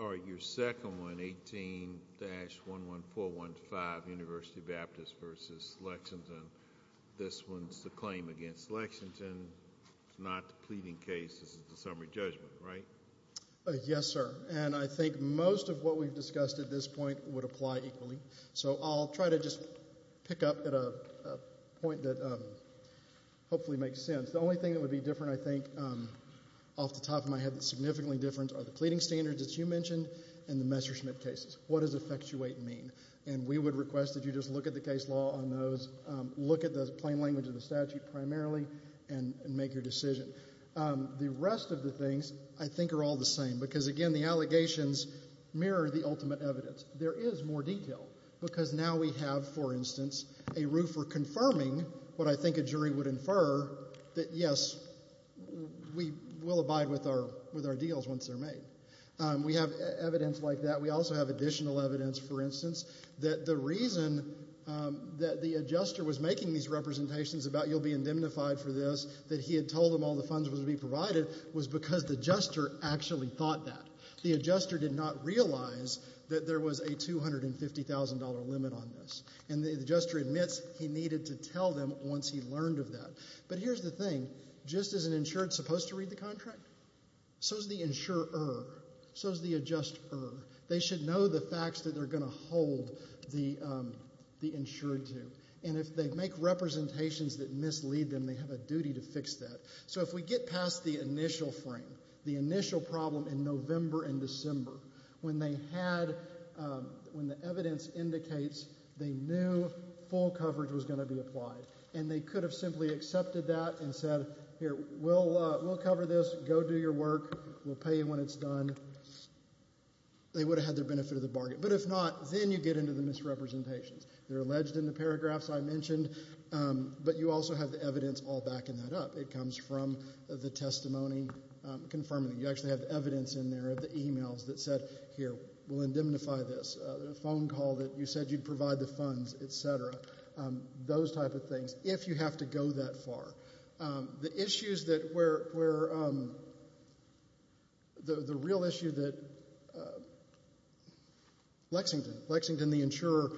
All right, your second one, 18-11415, University of Baptist v. Lexington, this one's the claim against Lexington, it's not the pleading case, this is the summary judgment, right? Yes sir, and I think most of what we've discussed at this point would apply equally. So I'll try to just pick up at a point that hopefully makes sense. The only thing that would be different, I think, off the top of my head that's significantly different are the pleading standards that you mentioned and the Messerschmitt cases. What does effectuate mean? And we would request that you just look at the case law on those, look at the plain language of the statute primarily, and make your decision. The rest of the things, I think, are all the same because, again, the allegations mirror the ultimate evidence. There is more detail because now we have, for instance, a roofer confirming what I think a jury would infer, that yes, we will abide with our deals once they're made. We have evidence like that. We also have additional evidence, for instance, that the reason that the adjuster was making these representations about you'll be indemnified for this, that he had told them all the funds would be provided, was because the adjuster actually thought that. The adjuster did not realize that there was a $250,000 limit on this. And the adjuster admits he needed to tell them once he learned of that. But here's the thing. Just as an insured is supposed to read the contract, so is the insurer. So is the adjuster. They should know the facts that they're going to hold the insured to. And if they make representations that mislead them, they have a duty to fix that. So if we get past the initial frame, the initial problem in November and December, when they had, when the evidence indicates they knew full coverage was going to be applied, and they could have simply accepted that and said, here, we'll cover this, go do your work, we'll pay you when it's done, they would have had their benefit of the bargain. But if not, then you get into the misrepresentations. They're alleged in the paragraphs I mentioned, but you also have the evidence all backing that up. It comes from the testimony confirming that you actually have evidence in there of the will indemnify this, a phone call that you said you'd provide the funds, et cetera, those type of things, if you have to go that far. The issues that were, the real issue that Lexington, Lexington, the insurer,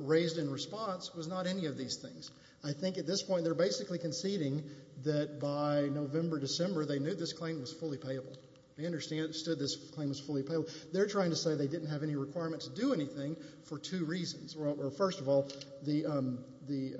raised in response was not any of these things. I think at this point they're basically conceding that by November, December, they knew this claim was fully payable. They understood this claim was fully payable. They're trying to say they didn't have any requirement to do anything for two reasons. First of all, the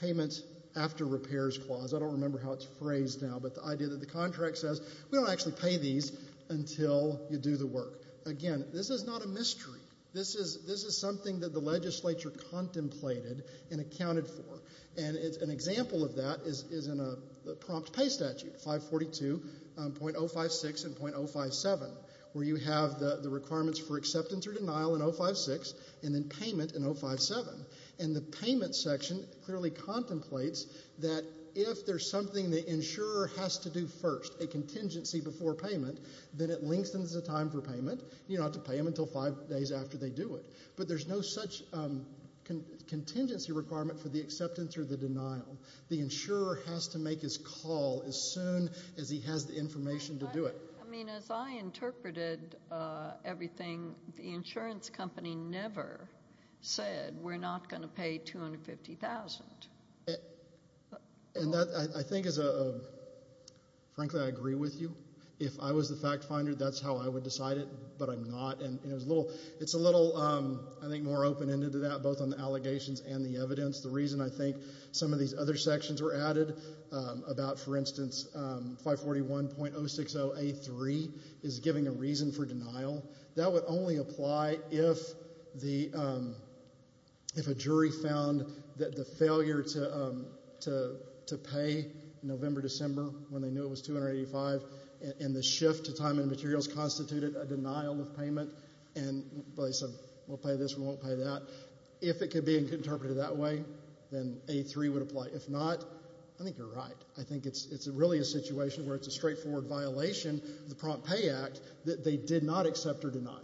payment after repairs clause, I don't remember how it's phrased now, but the idea that the contract says, we don't actually pay these until you do the work. Again, this is not a mystery. This is something that the legislature contemplated and accounted for. And an example of that is in a prompt pay statute, 542.056 and .057, where you have the requirements for acceptance or denial in .056 and then payment in .057. And the payment section clearly contemplates that if there's something the insurer has to do first, a contingency before payment, then it lengthens the time for payment. You don't have to pay them until five days after they do it. But there's no such contingency requirement for the acceptance or the denial. The insurer has to make his call as soon as he has the information to do it. I mean, as I interpreted everything, the insurance company never said, we're not going to pay $250,000. And that, I think, is a, frankly, I agree with you. If I was the fact finder, that's how I would decide it, but I'm not. And it's a little, I think, more open-ended to that, both on the allegations and the evidence. The reason, I think, some of these other sections were added about, for instance, 541.060A3 is giving a reason for denial. That would only apply if a jury found that the failure to pay November, December, when they knew it was $285,000, and the shift to time and materials constituted a denial of payment, and they said, we'll pay this, we won't pay that. If it could be interpreted that way, then A3 would apply. If not, I think you're right. I think it's really a situation where it's a straightforward violation, the Prompt Pay Act, that they did not accept or deny.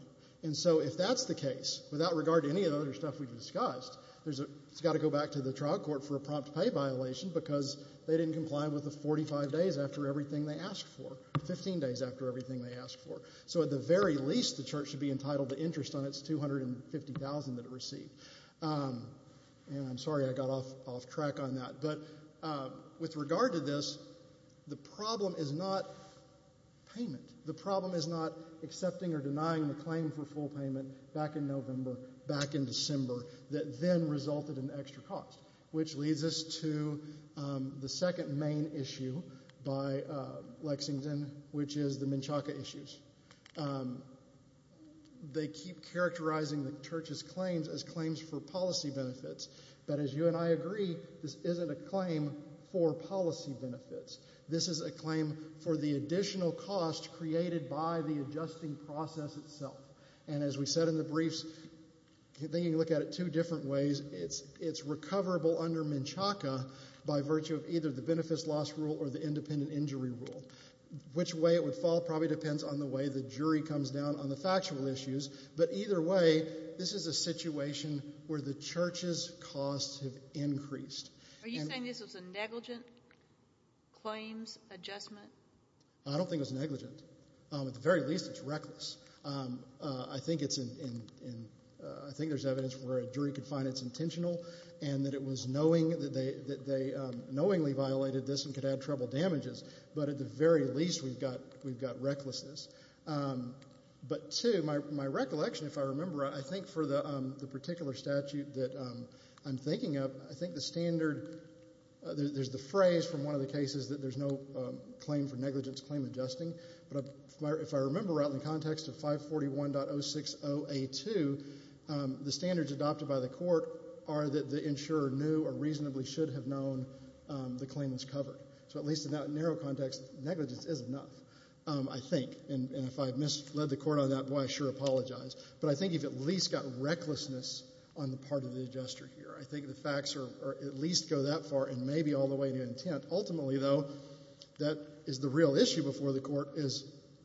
And so, if that's the case, without regard to any of the other stuff we've discussed, it's got to go back to the trial court for a prompt pay violation, because they didn't comply with the 45 days after everything they asked for, 15 days after everything they asked for. So, at the very least, the church should be entitled to interest on its $250,000 that it received. And I'm sorry I got off track on that, but with regard to this, the problem is not payment. The problem is not accepting or denying the claim for full payment back in November, back in December, that then resulted in extra cost. Which leads us to the second main issue by Lexington, which is the Menchaca issues. They keep characterizing the church's claims as claims for policy benefits. But as you and I agree, this isn't a claim for policy benefits. This is a claim for the additional cost created by the adjusting process itself. And as we said in the briefs, you can look at it two different ways. It's recoverable under Menchaca by virtue of either the benefits loss rule or the independent injury rule. Which way it would fall probably depends on the way the jury comes down on the factual issues. But either way, this is a situation where the church's costs have increased. Are you saying this was a negligent claims adjustment? I don't think it was negligent. At the very least, it's reckless. I think it's in, I think there's evidence where a jury could find it's intentional and that it was knowing that they knowingly violated this and could add trouble damages. But at the very least, we've got recklessness. But two, my recollection, if I remember, I think for the particular statute that I'm thinking of, I think the standard, there's the phrase from one of the cases that there's no claim for negligence claim adjusting. But if I remember out in the context of 541.060A2, the standards adopted by the court are that the insurer knew or reasonably should have known the claim was covered. So at least in that narrow context, negligence is enough, I think. And if I misled the court on that, boy, I sure apologize. But I think you've at least got recklessness on the part of the adjuster here. I think the facts are at least go that far and maybe all the way to intent. Ultimately, though, that is the real issue before the court is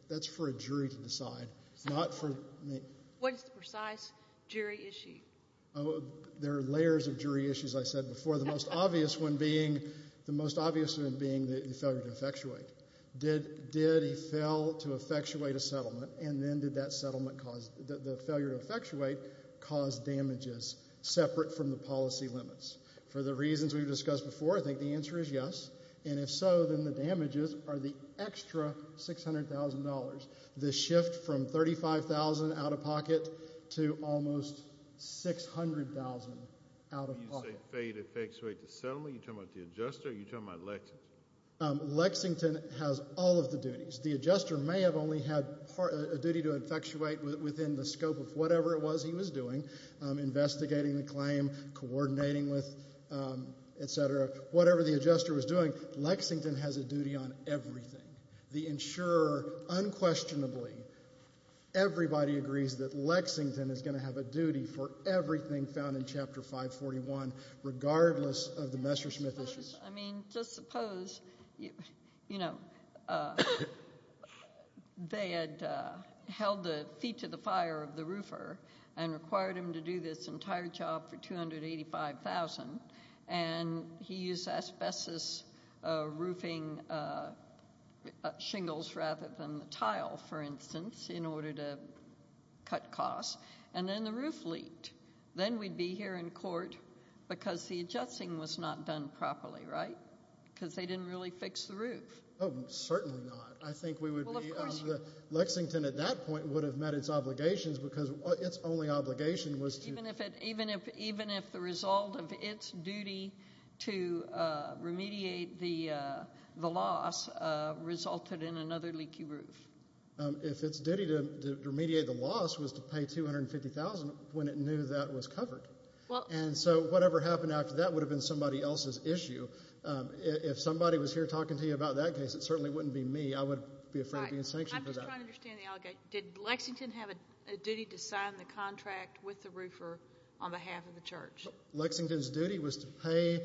that's for a jury to decide, not for me. What is the precise jury issue? There are layers of jury issues, I said before. The most obvious one being the failure to effectuate. Did he fail to effectuate a settlement, and then did the failure to effectuate cause damages separate from the policy limits? For the reasons we've discussed before, I think the answer is yes. And if so, then the damages are the extra $600,000. The shift from $35,000 out of pocket to almost $600,000 out of pocket. When you say fail to effectuate the settlement, you're talking about the adjuster or you're talking about Lexington? Lexington has all of the duties. The adjuster may have only had a duty to effectuate within the scope of whatever it was he was doing, investigating the claim, coordinating with, etc. Whatever the adjuster was doing, Lexington has a duty on everything. The insurer unquestionably, everybody agrees that Lexington is going to have a duty for everything found in Chapter 541, regardless of the Messerschmitt issues. I mean, just suppose they had held the feet to the fire of the roofer and required him to do this entire job for $285,000. And he used asbestos roofing shingles rather than the tile, for instance, in order to cut costs. And then the roof leaked. Then we'd be here in court because the adjusting was not done properly, right? Because they didn't really fix the roof. Oh, certainly not. I think we would be, Lexington at that point would have met its obligations because its only obligation was to... Even if the result of its duty to remediate the loss resulted in another leaky roof. If its duty to remediate the loss was to pay $250,000 when it knew that was covered. And so whatever happened after that would have been somebody else's issue. If somebody was here talking to you about that case, it certainly wouldn't be me. I would be afraid of being sanctioned for that. I'm just trying to understand the allegation. Did Lexington have a duty to sign the contract with the roofer on behalf of the church? Lexington's duty was to pay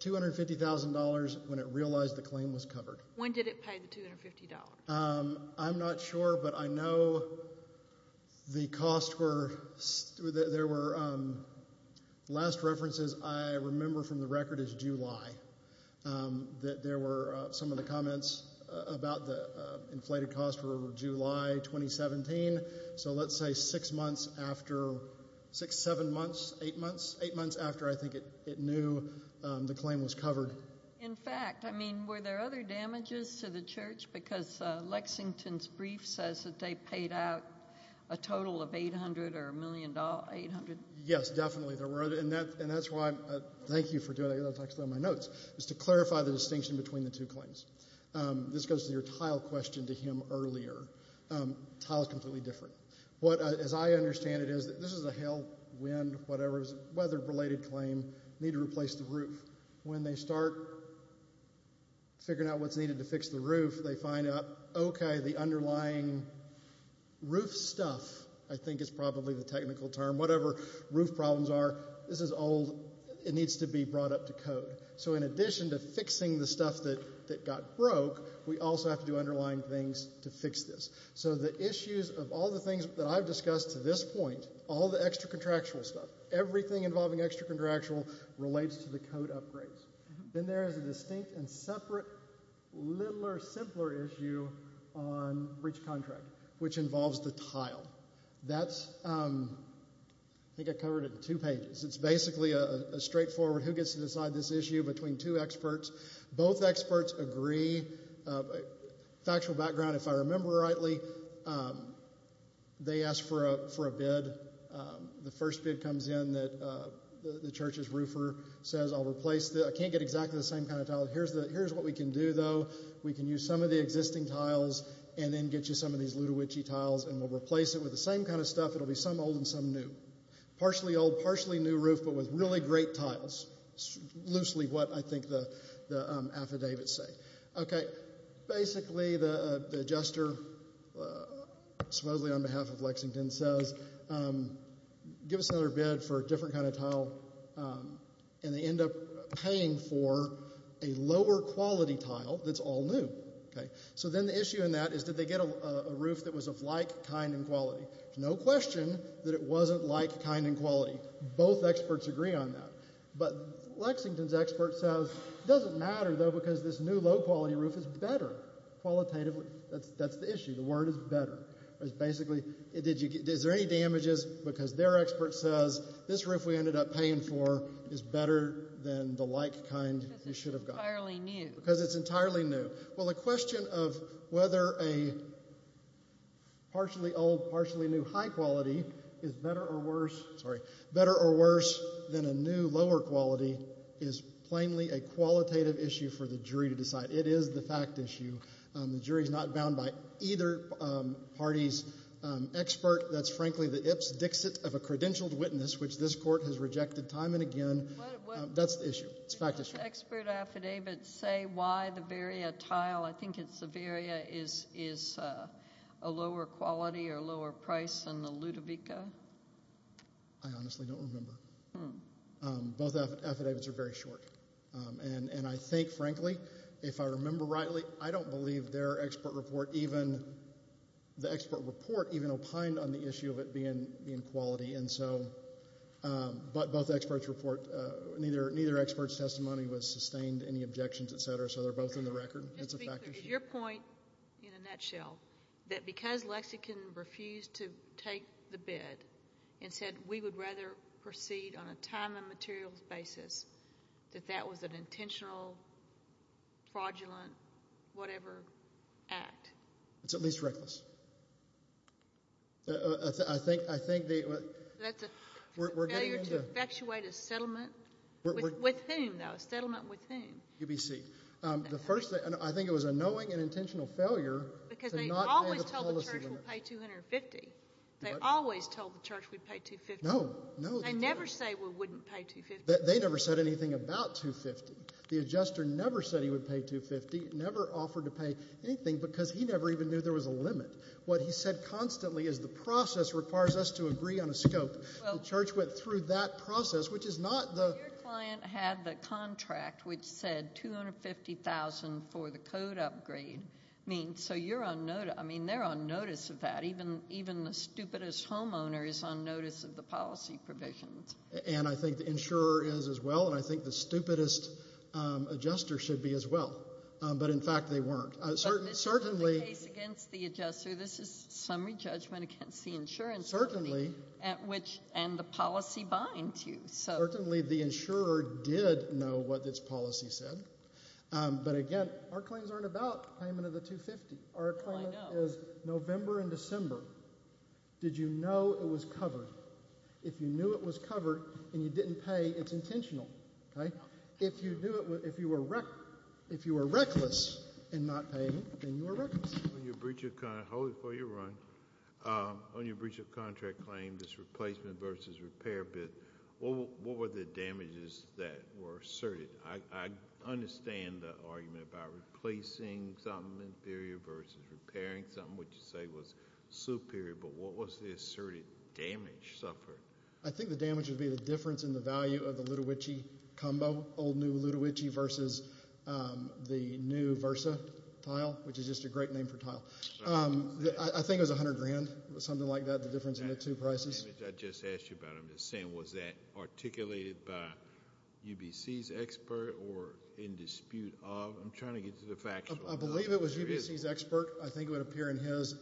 $250,000 when it realized the claim was covered. When did it pay the $250? I'm not sure, but I know the cost were... Last references I remember from the record is July. There were some of the comments about the inflated cost were July 2017. So let's say six months after... Six, seven months, eight months? Eight months after I think it knew the claim was covered. In fact, I mean, were there other damages to the church? Because Lexington's brief says that they paid out a total of $800,000 or $1,000,000, $800,000. Yes, definitely. And that's why, thank you for doing that, that's actually on my notes, is to clarify the distinction between the two claims. This goes to your tile question to him earlier. Tile's completely different. What, as I understand it, is that this is a hail, wind, whatever, weather-related claim, need to replace the roof. When they start figuring out what's needed to fix the roof, they find out, okay, the underlying roof stuff, I think is probably the technical term, whatever roof problems are, this is old, it needs to be brought up to code. So in addition to fixing the stuff that got broke, we also have to do underlying things to fix this. So the issues of all the things that I've discussed to this point, all the extra-contractual stuff, everything involving extra-contractual relates to the code upgrades. Then there is a distinct and separate, littler, simpler issue on breach contract, which involves the tile. That's, I think I covered it in two pages. It's basically a straightforward, who gets to decide this issue between two experts. Both experts agree. Factual background, if I remember rightly, they asked for a bid. The first bid comes in that the church's roofer says, I'll replace the, I can't get exactly the same kind of tile. Here's what we can do, though. We can use some of the existing tiles, and then get you some of these and we'll replace it with the same kind of stuff. It'll be some old and some new. Partially old, partially new roof, but with really great tiles. Loosely what I think the affidavits say. Okay. Basically, the adjuster, supposedly on behalf of Lexington, says, give us another bid for a different kind of tile. And they end up paying for a lower-quality tile that's all new. Okay. So then the issue in that is, did they get a roof that was of like, kind, and quality? No question that it wasn't like, kind, and quality. Both experts agree on that. But Lexington's expert says, it doesn't matter, though, because this new, low-quality roof is better. Qualitative, that's the issue. The word is better. It's basically, is there any damages? Because their expert says, this roof we ended up paying for is better than the like, kind you should have gotten. Because it's entirely new. Because it's entirely new. Well, the question of whether a partially old, partially new, high-quality is better or worse, sorry, better or worse than a new, lower-quality is plainly a qualitative issue for the jury to decide. It is the fact issue. The jury's not bound by either party's expert. That's frankly the Ips Dixit of a credentialed witness, which this court has rejected time and again. That's the issue. It's a fact issue. Do both expert affidavits say why the Varia tile, I think it's the Varia, is a lower quality or lower price than the Ludovica? I honestly don't remember. Both affidavits are very short. And I think, frankly, if I remember rightly, I don't believe their expert report even, the expert report even opined on the issue of it being quality. And so, but both experts report, neither expert's testimony was sustained, any objections, et cetera. So, they're both in the record. It's a fact issue. Your point, in a nutshell, that because Lexican refused to take the bid and said, we would rather proceed on a time and materials basis, that that was an intentional, fraudulent, whatever act? It's at least reckless. I think, I think they, we're getting into. That's a failure to effectuate a settlement with whom, though, a settlement with whom? UBC. The first thing, I think it was a knowing and intentional failure to not pay the policy limit. Because they always told the church we'd pay $250. They always told the church we'd pay $250. No, no. They never say we wouldn't pay $250. They never said anything about $250. The adjuster never said he would pay $250, never offered to pay anything because he never even knew there was a limit. What he said constantly is the process requires us to agree on a scope. The church went through that process, which is not the. But your client had the contract which said $250,000 for the code upgrade. I mean, so you're on, I mean, they're on notice of that. Even, even the stupidest homeowner is on notice of the policy provisions. And I think the insurer is as well. And I think the stupidest adjuster should be as well. But, in fact, they weren't. Certainly. But this is the case against the adjuster. This is summary judgment against the insurance company. Certainly. At which, and the policy binds you, so. Certainly the insurer did know what this policy said. But again, our claims aren't about payment of the $250. Our claim is November and December. Did you know it was covered? If you knew it was covered and you didn't pay, it's intentional, okay? If you knew it, if you were reckless in not paying, then you were reckless. On your breach of, hold it for your run, on your breach of contract claim, this replacement versus repair bid, what were the damages that were asserted? I understand the argument about replacing something inferior versus repairing something, which you say was superior, but what was the asserted damage suffered? I think the damage would be the difference in the value of the Lutowichy combo, old new Lutowichy versus the new Versa tile, which is just a great name for tile. I think it was $100,000, something like that, the difference in the two prices. I just asked you about it. I'm just saying, was that articulated by UBC's expert or in dispute of? I'm trying to get to the factual. I believe it was UBC's expert. I think it would appear in his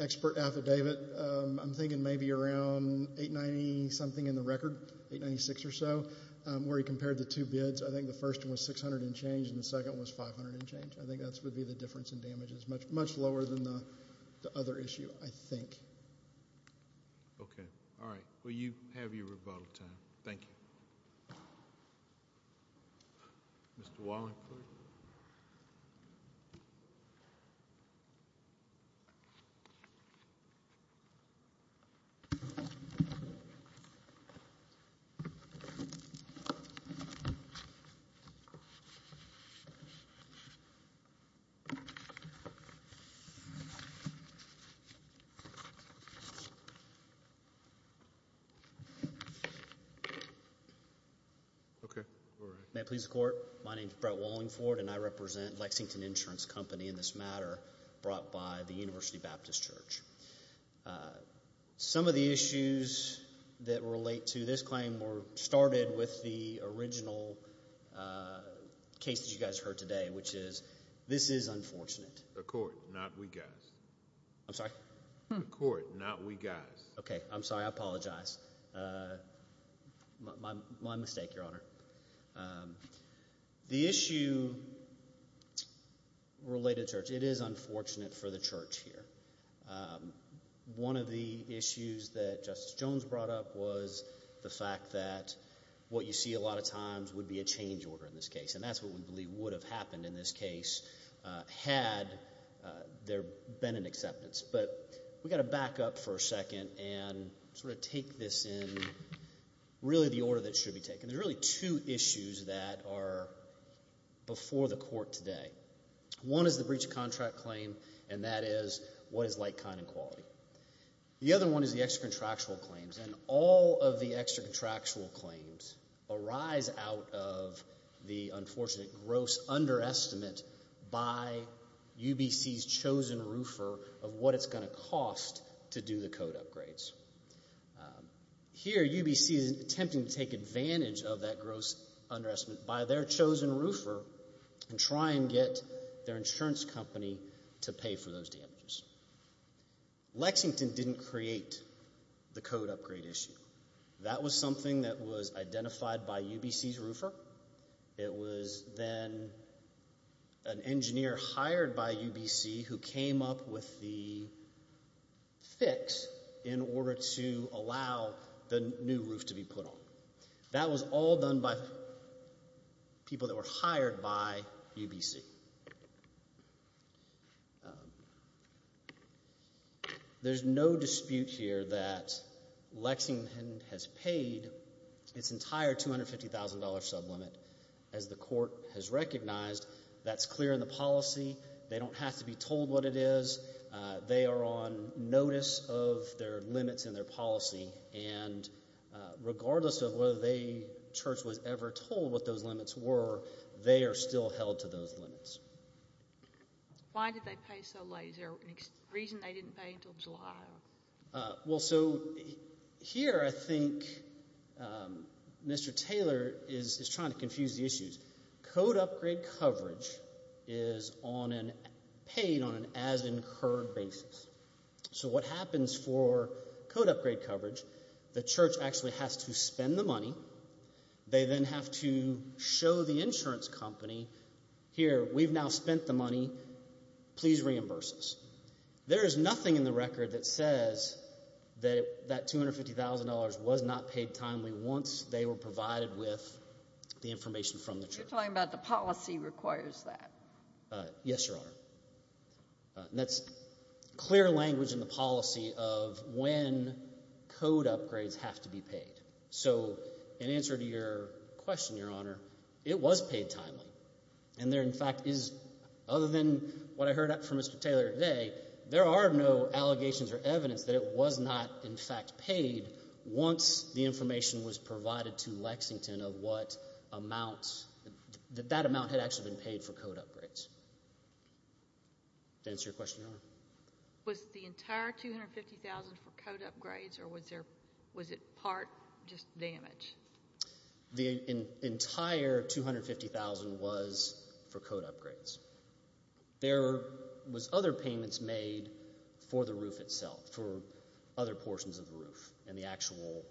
expert affidavit. I'm thinking maybe around 890 something in the record, 896 or so, where he compared the two bids. I think the first one was 600 and change, and the second one was 500 and change. I think that would be the difference in damages, much lower than the other issue, I think. Okay. All right. Well, you have your rebuttal time. Thank you. Mr. Wallingford. Okay. All right. May it please the court? My name is Brett Wallingford, and I represent Lexington Insurance Company in this matter, brought by the University Baptist Church. Some of the issues that relate to this claim started with the original case that you guys heard today, which is this is unfortunate. The court, not we guys. I'm sorry? The court, not we guys. Okay. I'm sorry. I apologize. My mistake, Your Honor. The issue related to church, it is unfortunate for the church here. One of the issues that Justice Jones brought up was the fact that what you see a lot of times would be a change order in this case, and that's what we believe would have happened in this case had there been an acceptance. But we've got to back up for a second and sort of take this in really the order that it should be taken. There's really two issues that are before the court today. One is the breach of contract claim, and that is what is like, kind, and quality. The other one is the extra contractual claims, and all of the extra contractual claims arise out of the unfortunate, gross underestimate by UBC's chosen roofer of what it's going to cost to do the code upgrades. Here, UBC is attempting to take advantage of that gross underestimate by their chosen roofer and try and get their insurance company to pay for those damages. Lexington didn't create the code upgrade issue. That was something that was identified by UBC's roofer. It was then an engineer hired by UBC who came up with the fix in order to allow the new roof to be put on. That was all done by people that were hired by UBC. There's no dispute here that Lexington has paid its entire $250,000 sublimit. As the court has recognized, that's clear in the policy. They don't have to be told what it is. They are on notice of their limits in their policy, and regardless of whether they, Church, was ever told what those limits were, they are still held to those limits. Why did they pay so late? Is there a reason they didn't pay until July? Well, so here I think Mr. Taylor is trying to confuse the issues. Code upgrade coverage is paid on an as incurred basis. So what happens for code upgrade coverage, the Church actually has to spend the money. They then have to show the insurance company, here we've now spent the money, please reimburse us. There is nothing in the record that says that that $250,000 was not paid timely once they were provided with the information from the Church. You're talking about the policy requires that. Yes, Your Honor. And that's clear language in the policy of when code upgrades have to be paid. So in answer to your question, Your Honor, it was paid timely, and there in fact is, other than what I heard from Mr. Taylor today, there are no allegations or evidence that it was not in fact paid once the information was provided to Lexington of what amount, that that amount had actually been paid for code upgrades. To answer your question, Your Honor. Was the entire $250,000 for code upgrades, or was it part just damage? The entire $250,000 was for code upgrades. There was other payments made for the roof itself, for other portions of the roof, and the actual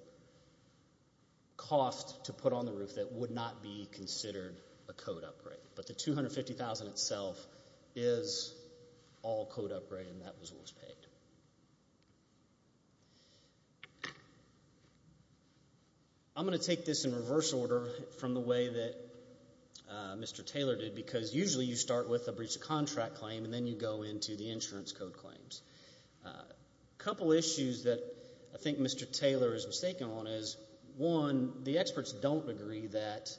cost to put on the roof that would not be considered a code upgrade. But the $250,000 itself is all code upgrade, and that was what was paid. I'm going to take this in reverse order from the way that Mr. Taylor did, because usually you start with a breach of contract claim, and then you go into the insurance code claims. A couple issues that I think Mr. Taylor is mistaken on is, one, the experts don't agree that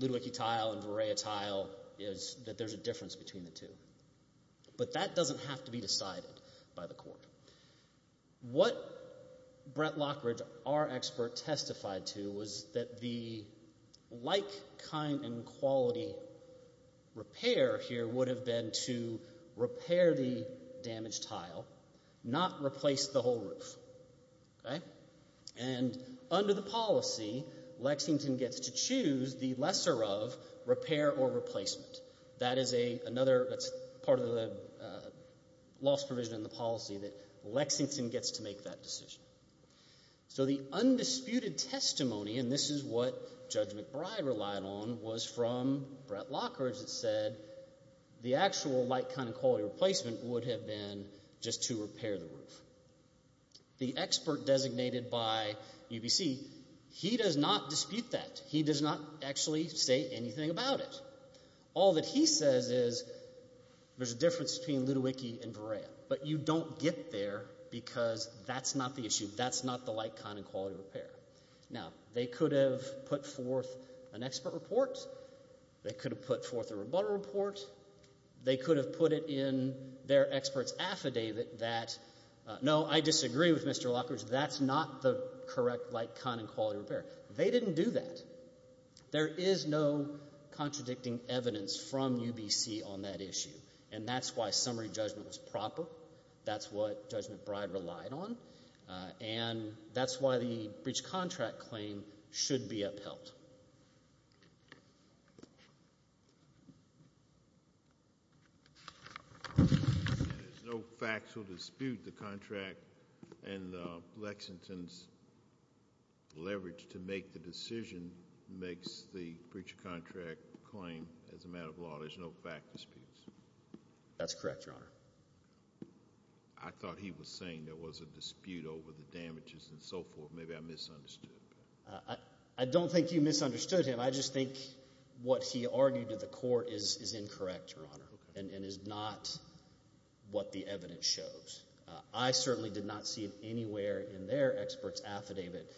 Ludwicky Tile and Vareya Tile is, that there's a difference between the two. But that doesn't have to be decided by the court. What Brett Lockridge, our expert, testified to was that the like, kind, and quality repair here would have been to repair the damaged tile, not replace the whole roof, okay? And under the policy, Lexington gets to choose the lesser of repair or replacement. That is a, another, that's part of the loss provision in the policy that Lexington gets to make that decision. So the undisputed testimony, and this is what Judge McBride relied on, was from Brett Lockridge that said the actual like, kind, and quality replacement would have been just to repair the roof. The expert designated by UBC, he does not dispute that. He does not actually say anything about it. All that he says is there's a difference between Ludwicky and Vareya, but you don't get there because that's not the issue. That's not the like, kind, and quality repair. Now, they could have put forth an expert report. They could have put forth a rebuttal report. They could have put it in their expert's affidavit that, no, I disagree with Mr. Lockridge. That's not the correct like, kind, and quality repair. They didn't do that. There is no contradicting evidence from UBC on that issue. And that's why summary judgment was proper. That's what Judge McBride relied on. And that's why the breach contract claim should be upheld. There's no factual dispute. The contract and Lexington's leverage to make the decision makes the breach contract claim as a matter of law. There's no fact disputes. That's correct, Your Honor. I thought he was saying there was a dispute over the damages and so forth. Maybe I misunderstood. I don't think you misunderstood him. I just think what he argued to the court is incorrect, Your Honor, and is not what the evidence shows. I certainly did not see it anywhere in their expert's affidavit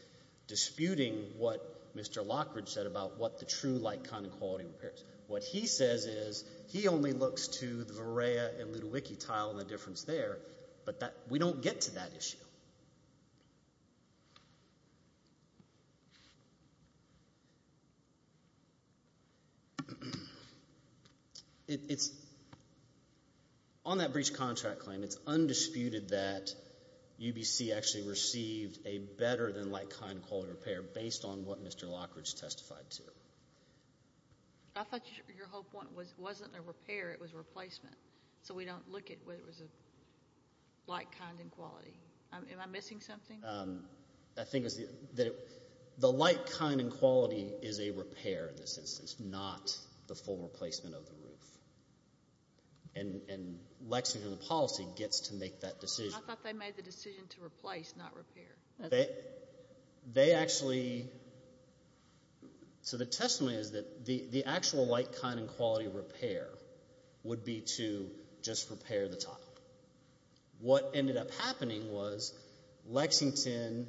disputing what Mr. Lockridge said about what the true like, kind, and quality repairs. What he says is, he only looks to the Vareya and Ludowicki tile and the difference there. But we don't get to that issue. On that breach contract claim, it's undisputed that UBC actually received a better than like, kind, and quality repair based on what Mr. Lockridge testified to. I thought your whole point wasn't a repair. It was a replacement. So we don't look at whether it was a like, kind, and quality. Am I missing something? I think that the like, kind, and quality is a repair in this instance, not the full replacement of the roof. And Lexington policy gets to make that decision. I thought they made the decision to replace, not repair. They actually, so the testimony is that the actual like, kind, and quality repair would be to just repair the tile. What ended up happening was Lexington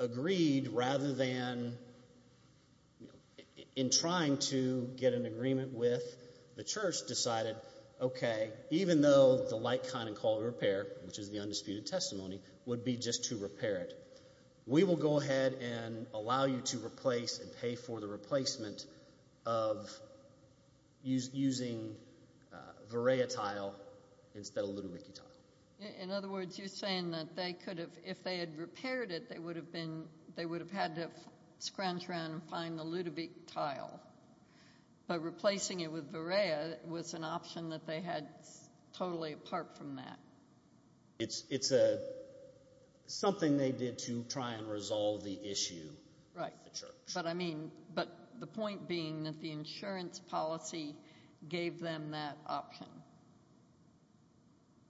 agreed, rather than in trying to get an agreement with the church, decided, OK, even though the like, kind, and quality repair, which is the undisputed testimony, would be just to repair it. We will go ahead and allow you to replace and pay for the replacement of using Vareya tile instead of Ludovicky tile. In other words, you're saying that they could have, if they had repaired it, they would have been, they would have had to scrounge around and find the Ludovick tile. But replacing it with Vareya was an option that they had totally apart from that. It's something they did to try and resolve the issue at the church. But the point being that the insurance policy gave them that option.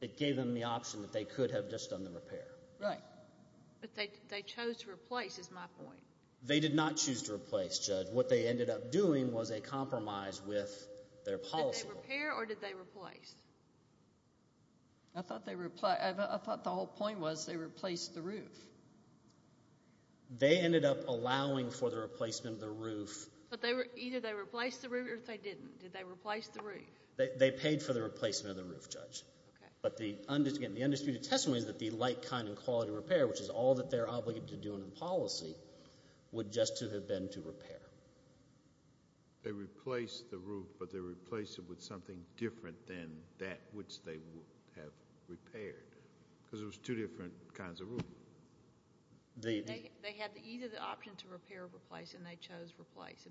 It gave them the option that they could have just done the repair. Right. But they chose to replace, is my point. They did not choose to replace, Judge. What they ended up doing was a compromise with their policy. Did they repair or did they replace? I thought the whole point was they replaced the roof. They ended up allowing for the replacement of the roof. But either they replaced the roof or they didn't. Did they replace the roof? They paid for the replacement of the roof, Judge. But the undisputed testimony is that the like, kind, and quality repair, which is all that they're obligated to do under the policy, would just have been to repair. They replaced the roof, but they replaced it with something different than that which they would have repaired. Because it was two different kinds of roof. They had either the option to repair or replace, and they chose replace.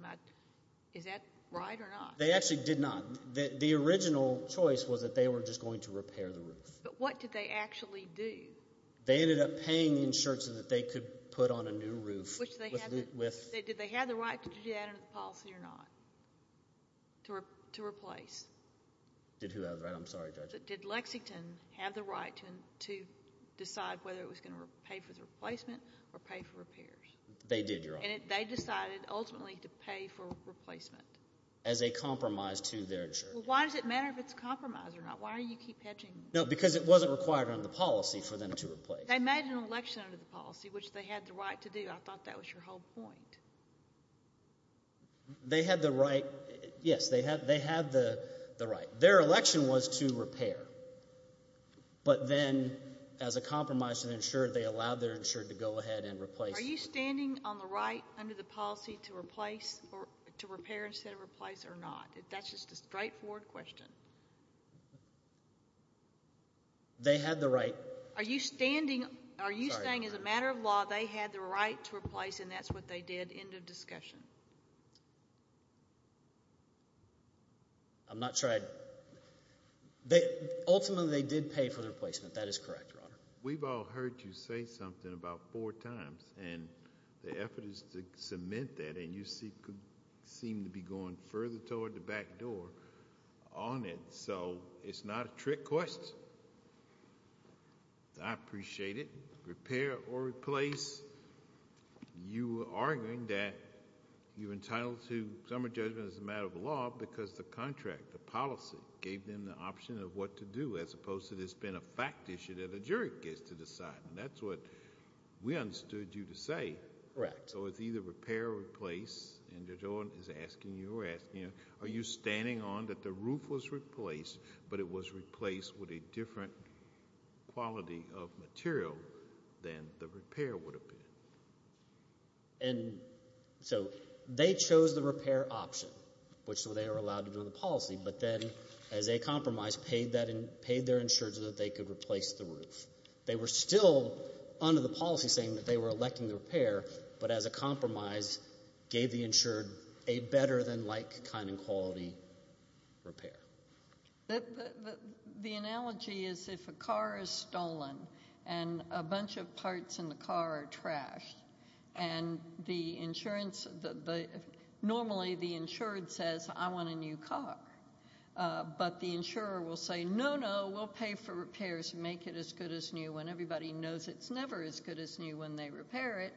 Is that right or not? They actually did not. The original choice was that they were just going to repair the roof. But what did they actually do? They ended up paying the insurance that they could put on a new roof. Did they have the right to do that under the policy or not, to replace? Did who have the right? I'm sorry, Judge. Did Lexington have the right to decide whether it was going to pay for the replacement or pay for repairs? They did, Your Honor. And they decided ultimately to pay for replacement? As a compromise to their insurance. Well, why does it matter if it's a compromise or not? Why do you keep hedging? No, because it wasn't required under the policy for them to replace. They made an election under the policy, which they had the right to do. I thought that was your whole point. They had the right. Yes, they had the right. Their election was to repair. But then, as a compromise to their insurance, they allowed their insurance to go ahead and replace. Are you standing on the right under the policy to replace, or to repair instead of replace, or not? That's just a straightforward question. They had the right. Are you standing, are you saying as a matter of law, they had the right to replace and that's what they did, end of discussion? I'm not sure I'd, ultimately they did pay for the replacement. That is correct, Your Honor. We've all heard you say something about four times. And the effort is to cement that. And you seem to be going further toward the back door on it. So it's not a trick question. I appreciate it. Repair or replace. You were arguing that you're entitled to some judgment as a matter of law because the contract, the policy, gave them the option of what to do, as opposed to this being a fact issue that a jury gets to decide. And that's what we understood you to say. Correct. So it's either repair or replace. And Judge Ordon is asking, you were asking, are you standing on that the roof was replaced, but it was replaced with a different quality of material than the repair would have been? And so they chose the repair option, which they were allowed to do in the policy, but then as a compromise, paid their insured so that they could replace the roof. They were still under the policy saying that they were electing the repair, but as a compromise, gave the insured a better than like kind and quality repair. The analogy is if a car is stolen and a bunch of parts in the car are trashed and the insurance, normally the insured says, I want a new car. But the insurer will say, no, no, we'll pay for repairs and make it as good as new when everybody knows it's never as good as new when they repair it.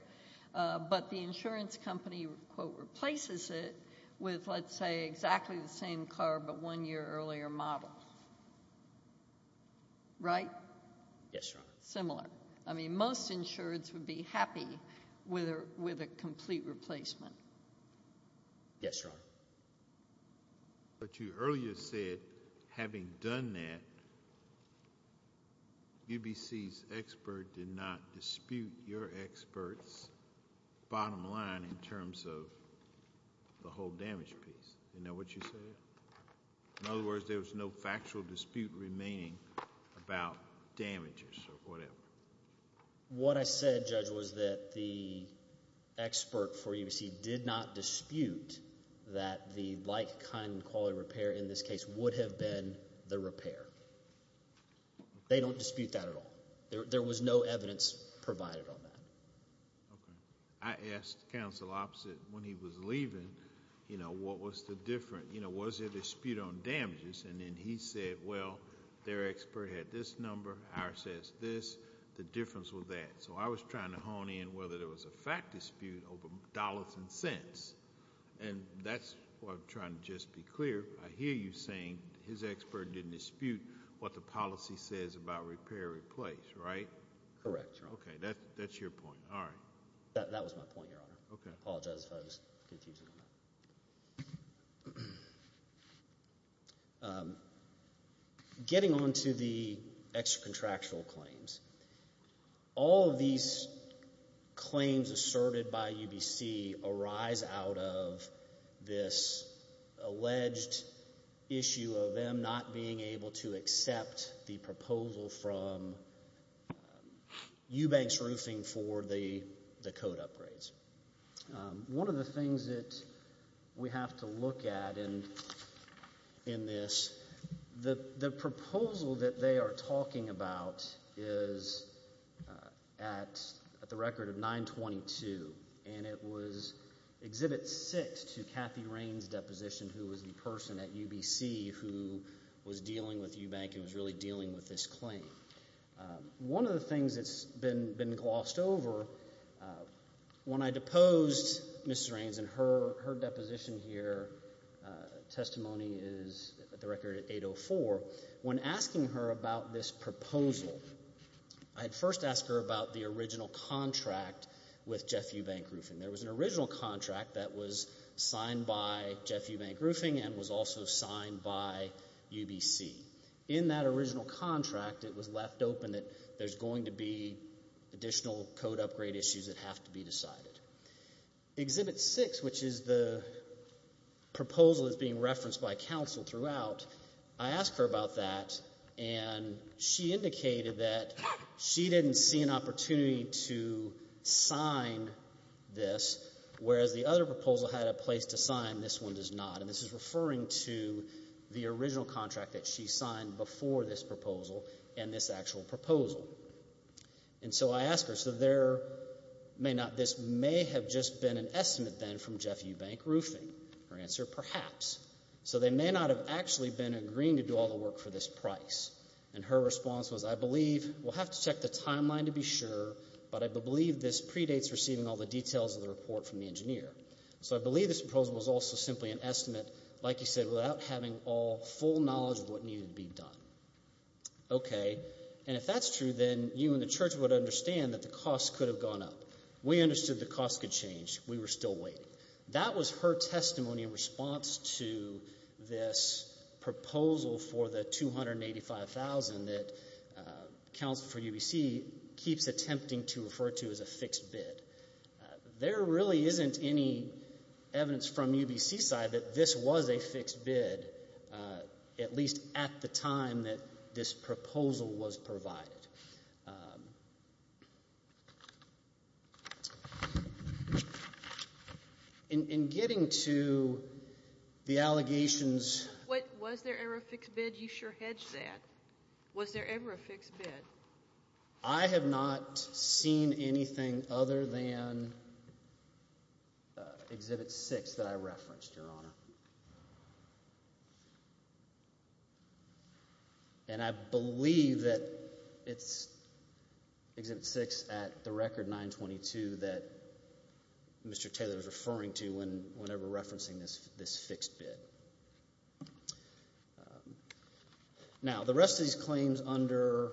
But the insurance company, quote, replaces it with, let's say, exactly the same car but one year earlier model, right? Yes, Your Honor. Similar. I mean, most insureds would be happy with a complete replacement. Yes, Your Honor. But you earlier said, having done that, UBC's expert did not dispute your expert's the whole damage piece. Isn't that what you said? In other words, there was no factual dispute remaining about damages or whatever. What I said, Judge, was that the expert for UBC did not dispute that the like kind and quality repair in this case would have been the repair. They don't dispute that at all. There was no evidence provided on that. Okay. I asked Counsel Oppsit when he was leaving, you know, what was the difference? You know, was there a dispute on damages? And then he said, well, their expert had this number, ours has this. The difference was that. So I was trying to hone in whether there was a fact dispute over dollars and cents. And that's what I'm trying to just be clear. I hear you saying his expert didn't dispute what the policy says about repair and replace, right? Correct, Your Honor. Okay. That's your point. All right. That was my point, Your Honor. Okay. Apologize if I was confusing on that. Getting on to the extracontractual claims. All of these claims asserted by UBC arise out of this alleged issue of them not being able to accept the proposal from Eubanks Roofing for the coat upgrades. One of the things that we have to look at in this, the proposal that they are talking about is at the record of 922, and it was Exhibit 6 to Kathy Rain's deposition, who was the person at UBC who was dealing with Eubank and was really dealing with this claim. One of the things that's been glossed over, when I deposed Ms. Raines, and her deposition here, testimony is at the record at 804. When asking her about this proposal, I had first asked her about the original contract with Jeff Eubank Roofing. There was an original contract that was signed by Jeff Eubank Roofing and was also signed by UBC. In that original contract, it was left open that there's going to be additional coat upgrade issues that have to be decided. Exhibit 6, which is the proposal that's being referenced by counsel throughout, I asked her about that, and she indicated that she didn't see an opportunity to sign this, whereas the other proposal had a place to sign, this one does not. And this is referring to the original contract that she signed before this proposal and this actual proposal. And so I asked her, so there may not, this may have just been an estimate then from Jeff Eubank Roofing. Her answer, perhaps. So they may not have actually been agreeing to do all the work for this price. And her response was, I believe, we'll have to check the timeline to be sure, but I believe this predates receiving all the details of the report from the engineer. So I believe this proposal was also simply an estimate, like you said, without having all full knowledge of what needed to be done. Okay. And if that's true, then you and the church would understand that the cost could have gone up. We understood the cost could change. We were still waiting. That was her testimony in response to this proposal for the $285,000 that Council for UBC keeps attempting to refer to as a fixed bid. There really isn't any evidence from UBC's side that this was a fixed bid, at least at the time that this proposal was provided. In getting to the allegations. Was there ever a fixed bid? You sure hedged that. Was there ever a fixed bid? I have not seen anything other than Exhibit 6 that I referenced, Your Honor. And I believe that it's Exhibit 6 at the record 922 that Mr. Taylor was referring to whenever referencing this fixed bid. Now, the rest of these claims under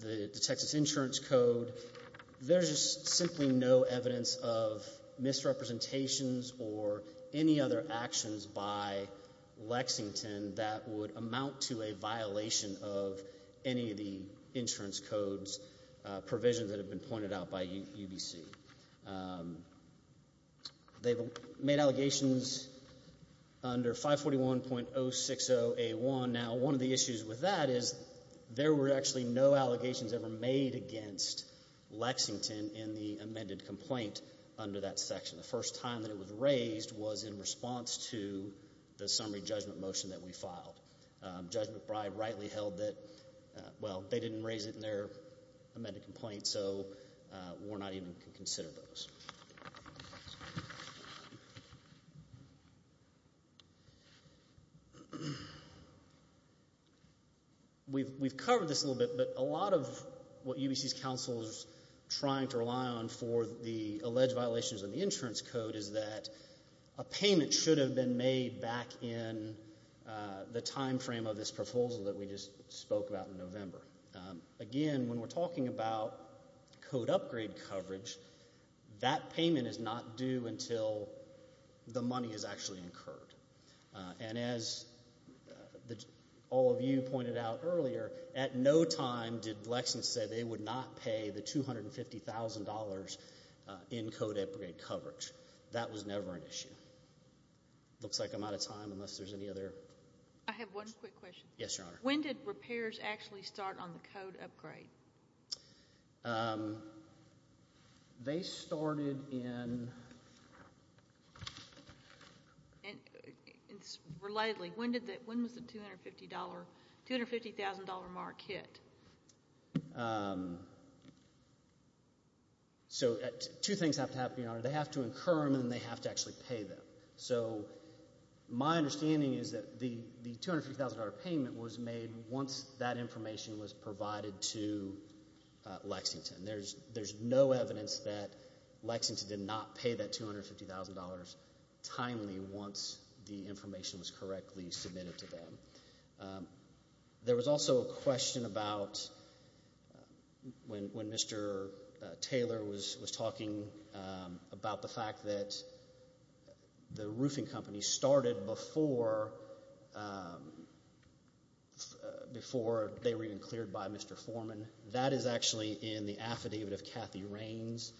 the Texas Insurance Code, there's just simply no evidence of misrepresentations or any other actions by Lexington that would amount to a violation of any of the insurance code's provisions that have been pointed out by UBC. They've made allegations under 541.060A1. Now, one of the issues with that is there were actually no allegations ever made against Lexington in the amended complaint under that section. The first time that it was raised was in response to the summary judgment motion that we filed. Judge McBride rightly held that, well, they didn't raise it in their amended complaint, so we're not even going to consider those. We've covered this a little bit, but a lot of what UBC's counsel is trying to rely on for the alleged violations of the insurance code is that a payment should have been made back in the time frame of this proposal that we're talking about code upgrade coverage, that payment is not due until the money is actually incurred. And as all of you pointed out earlier, at no time did Lexington say they would not pay the $250,000 in code upgrade coverage. That was never an issue. Looks like I'm out of time unless there's any other. I have one quick question. Yes, Your Honor. When did repairs actually start on the code upgrade? They started in... Relatedly, when was the $250,000 mark hit? So two things have to happen, Your Honor. They have to incur them and they have to actually pay them. So my understanding is that the $250,000 payment was made once that information was provided to Lexington. There's no evidence that Lexington did not pay that $250,000 timely once the information was correctly submitted to them. There was also a question about when Mr. Taylor was talking about the fact that the roofing company started before they were even cleared by Mr. Foreman. That is actually in the affidavit of Kathy Raines.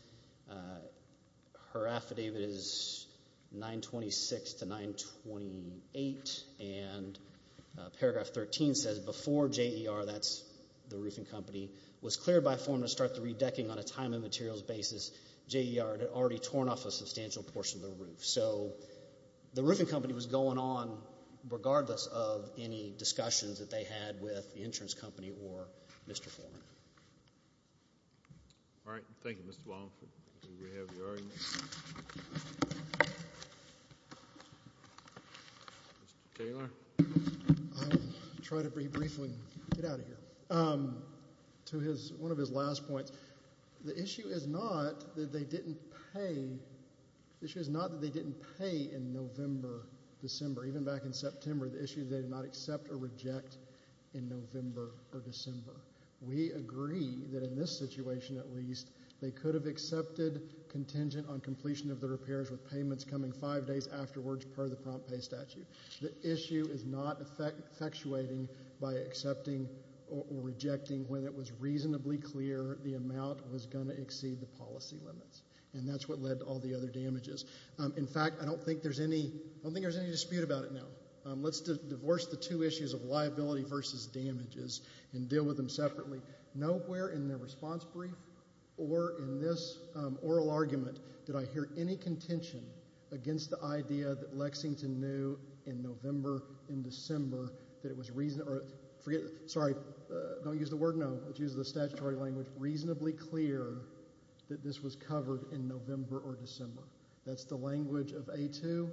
Her affidavit is 926 to 928, and paragraph 13 says, before JER, that's the roofing company, was cleared by Foreman to start the redecking on a time and materials basis, JER had already torn off a substantial portion of the roof. So the roofing company was going on regardless of any discussions that they had with the insurance company or Mr. Foreman. All right. Thank you, Mr. Wallingford. Do we have your argument? Mr. Taylor? Try to be brief and get out of here. To one of his last points, the issue is not that they didn't pay in November, December. Even back in September, the issue is they did not accept or reject in November or December. We agree that in this situation, at least, they could have accepted contingent on completion of the repairs with payments coming five days afterwards per the prompt pay statute. The issue is not effectuating by accepting or rejecting when it was reasonably clear the amount was going to exceed the policy limits, and that's what led to all the other damages. In fact, I don't think there's any dispute about it now. Let's divorce the two issues of liability versus damages and deal with them separately. Nowhere in their response brief or in this oral argument did I hear any contention against the idea that Lexington knew in November and December that it was reason or, forget, sorry, don't use the word no, which is the statutory language, reasonably clear that this was covered in November or December. That's the language of A2.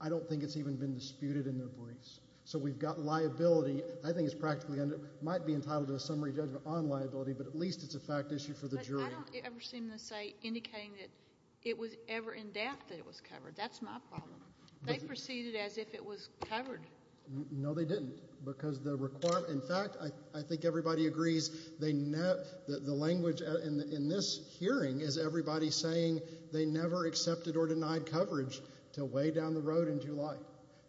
I don't think it's even been disputed in their briefs. So we've got liability. I think it's practically, might be entitled to a summary judgment on liability, but at least it's a fact issue for the jury. I don't ever seem to say indicating that it was ever in doubt that it was covered. That's my problem. They proceeded as if it was covered. No, they didn't, because the requirement, in fact, I think everybody agrees they never, the language in this hearing is everybody saying they never accepted or denied coverage until way down the road in July.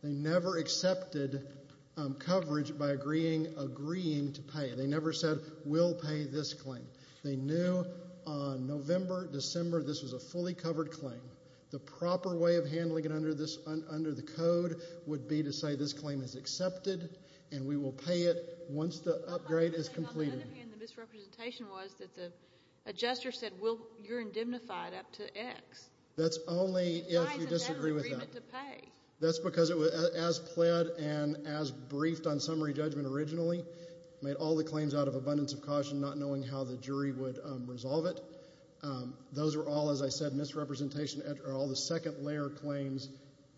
They never accepted coverage by agreeing to pay. They never said we'll pay this claim. They knew on November, December, this was a fully covered claim. The proper way of handling it under the code would be to say this claim is accepted and we will pay it once the upgrade is completed. On the other hand, the misrepresentation was that the adjuster said you're indemnified up to X. That's only if you disagree with that. Why is it ever agreement to pay? That's because it was as pled and as briefed on summary judgment originally, made all the claims out of abundance of caution, not knowing how the jury would resolve it. Those are all, as I said, misrepresentation are all the second layer claims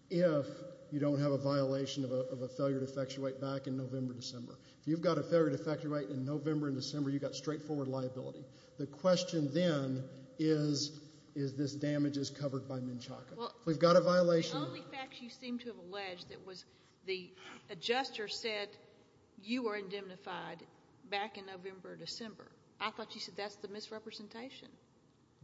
if you don't have a violation of a failure to effectuate back in November, December. If you've got a failure to effectuate in November and December, you've got straightforward liability. The question then is, is this damage is covered by Menchaca? If we've got a violation. The only fact you seem to have alleged that was the adjuster said you were indemnified back in November, December, I thought you said that's the misrepresentation.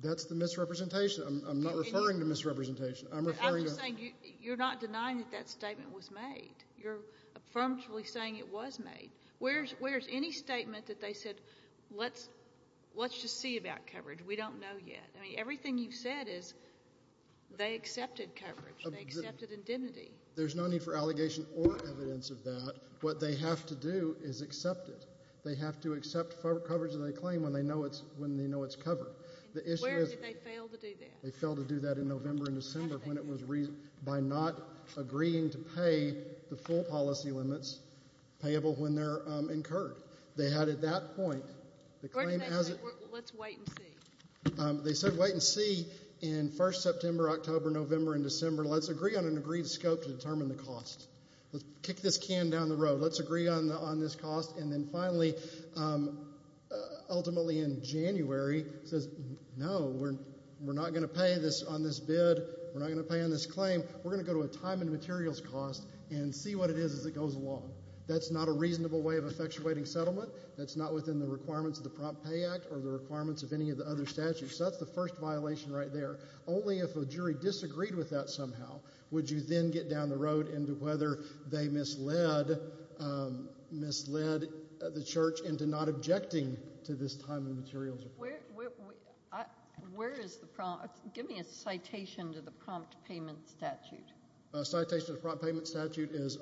That's the misrepresentation. I'm not referring to misrepresentation. I'm referring to. I'm just saying you're not denying that that statement was made. You're affirmatively saying it was made. Where's any statement that they said let's just see about coverage. We don't know yet. I mean, everything you've said is they accepted coverage. They accepted indemnity. There's no need for allegation or evidence of that. What they have to do is accept it. They have to accept coverage that they claim when they know it's covered. Where did they fail to do that? They failed to do that in November and December when it was, by not agreeing to pay the full policy limits payable when they're incurred. They had at that point. Let's wait and see. They said wait and see in 1st September, October, November, and December. Let's agree on an agreed scope to determine the cost. Let's kick this can down the road. Let's agree on this cost. And then finally, ultimately in January, says no, we're not going to pay on this bid. We're not going to pay on this claim. We're going to go to a time and materials cost and see what it is as it goes along. That's not a reasonable way of effectuating settlement. That's not within the requirements of the Prompt Pay Act or the requirements of any of the other statutes. That's the first violation right there. Only if a jury disagreed with that somehow would you then get down the road into whether they misled the church into not objecting to this time and materials. Where is the, give me a citation to the Prompt Payment Statute. A citation to the Prompt Payment Statute is,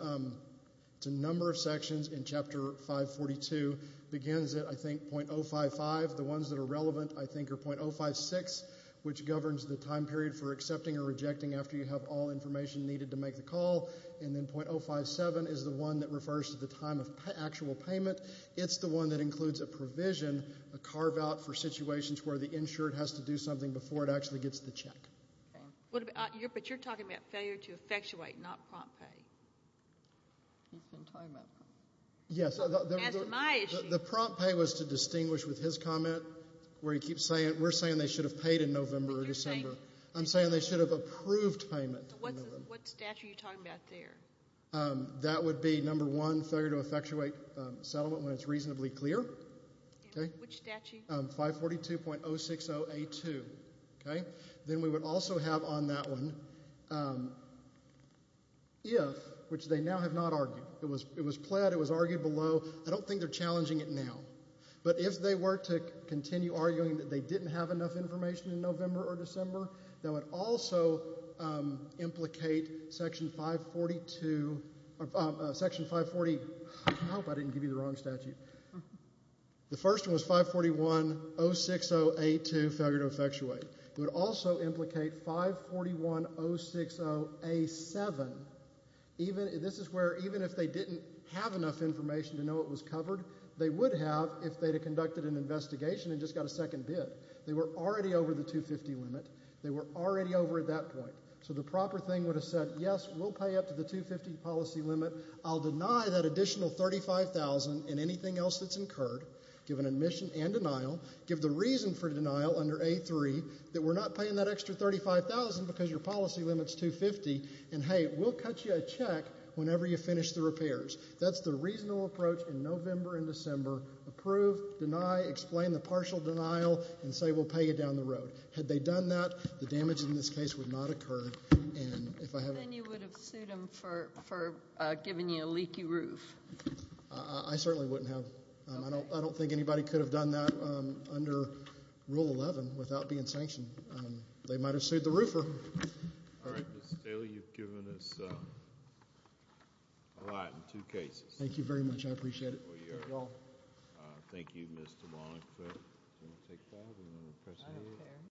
it's a number of sections in Chapter 542, begins at, I think, .055. The ones that are relevant, I think, are .056, which governs the time period for accepting or rejecting after you have all information needed to make the call. And then .057 is the one that refers to the time of actual payment. It's the one that includes a provision, a carve out for situations where the insured has to do something before it actually gets the check. But you're talking about failure to effectuate, not Prompt Pay. He's been talking about Prompt Pay. Yes, the Prompt Pay was to distinguish with his comment where he keeps saying, we're saying they should have paid in November or December. I'm saying they should have approved payment. What statute are you talking about there? That would be number one, failure to effectuate settlement when it's reasonably clear. Okay. Which statute? 542.060A2. Okay. Then we would also have on that one, if, which they now have not argued. It was pled, it was argued below. I don't think they're challenging it now. But if they were to continue arguing that they didn't have enough information in November or December, that would also implicate section 542, section 540, I hope I didn't give you the wrong statute. The first one was 541.060A2, failure to effectuate. It would also implicate 541.060A7. Even, this is where even if they didn't have enough information to know it was covered, they would have if they had conducted an investigation and just got a second bid. They were already over the 250 limit. They were already over at that point. So the proper thing would have said, yes, we'll pay up to the 250 policy limit. I'll deny that additional 35,000 and anything else that's incurred, given admission and denial, give the reason for denial under A3, that we're not paying that extra 35,000 because your policy limit's 250. And hey, we'll cut you a check whenever you finish the repairs. That's the reasonable approach in November and December. Approve, deny, explain the partial denial, and say we'll pay you down the road. Had they done that, the damage in this case would not occur. And if I have. Then you would have sued them for giving you a leaky roof. I certainly wouldn't have. I don't think anybody could have done that under Rule 11 without being sanctioned. They might have sued the roofer. All right, Mr. Staley, you've given us a lot in two cases. Thank you very much. I appreciate it. You're welcome. Thank you, Mr. Wallingford. Do you want to take that or do you want to press against it? I don't care.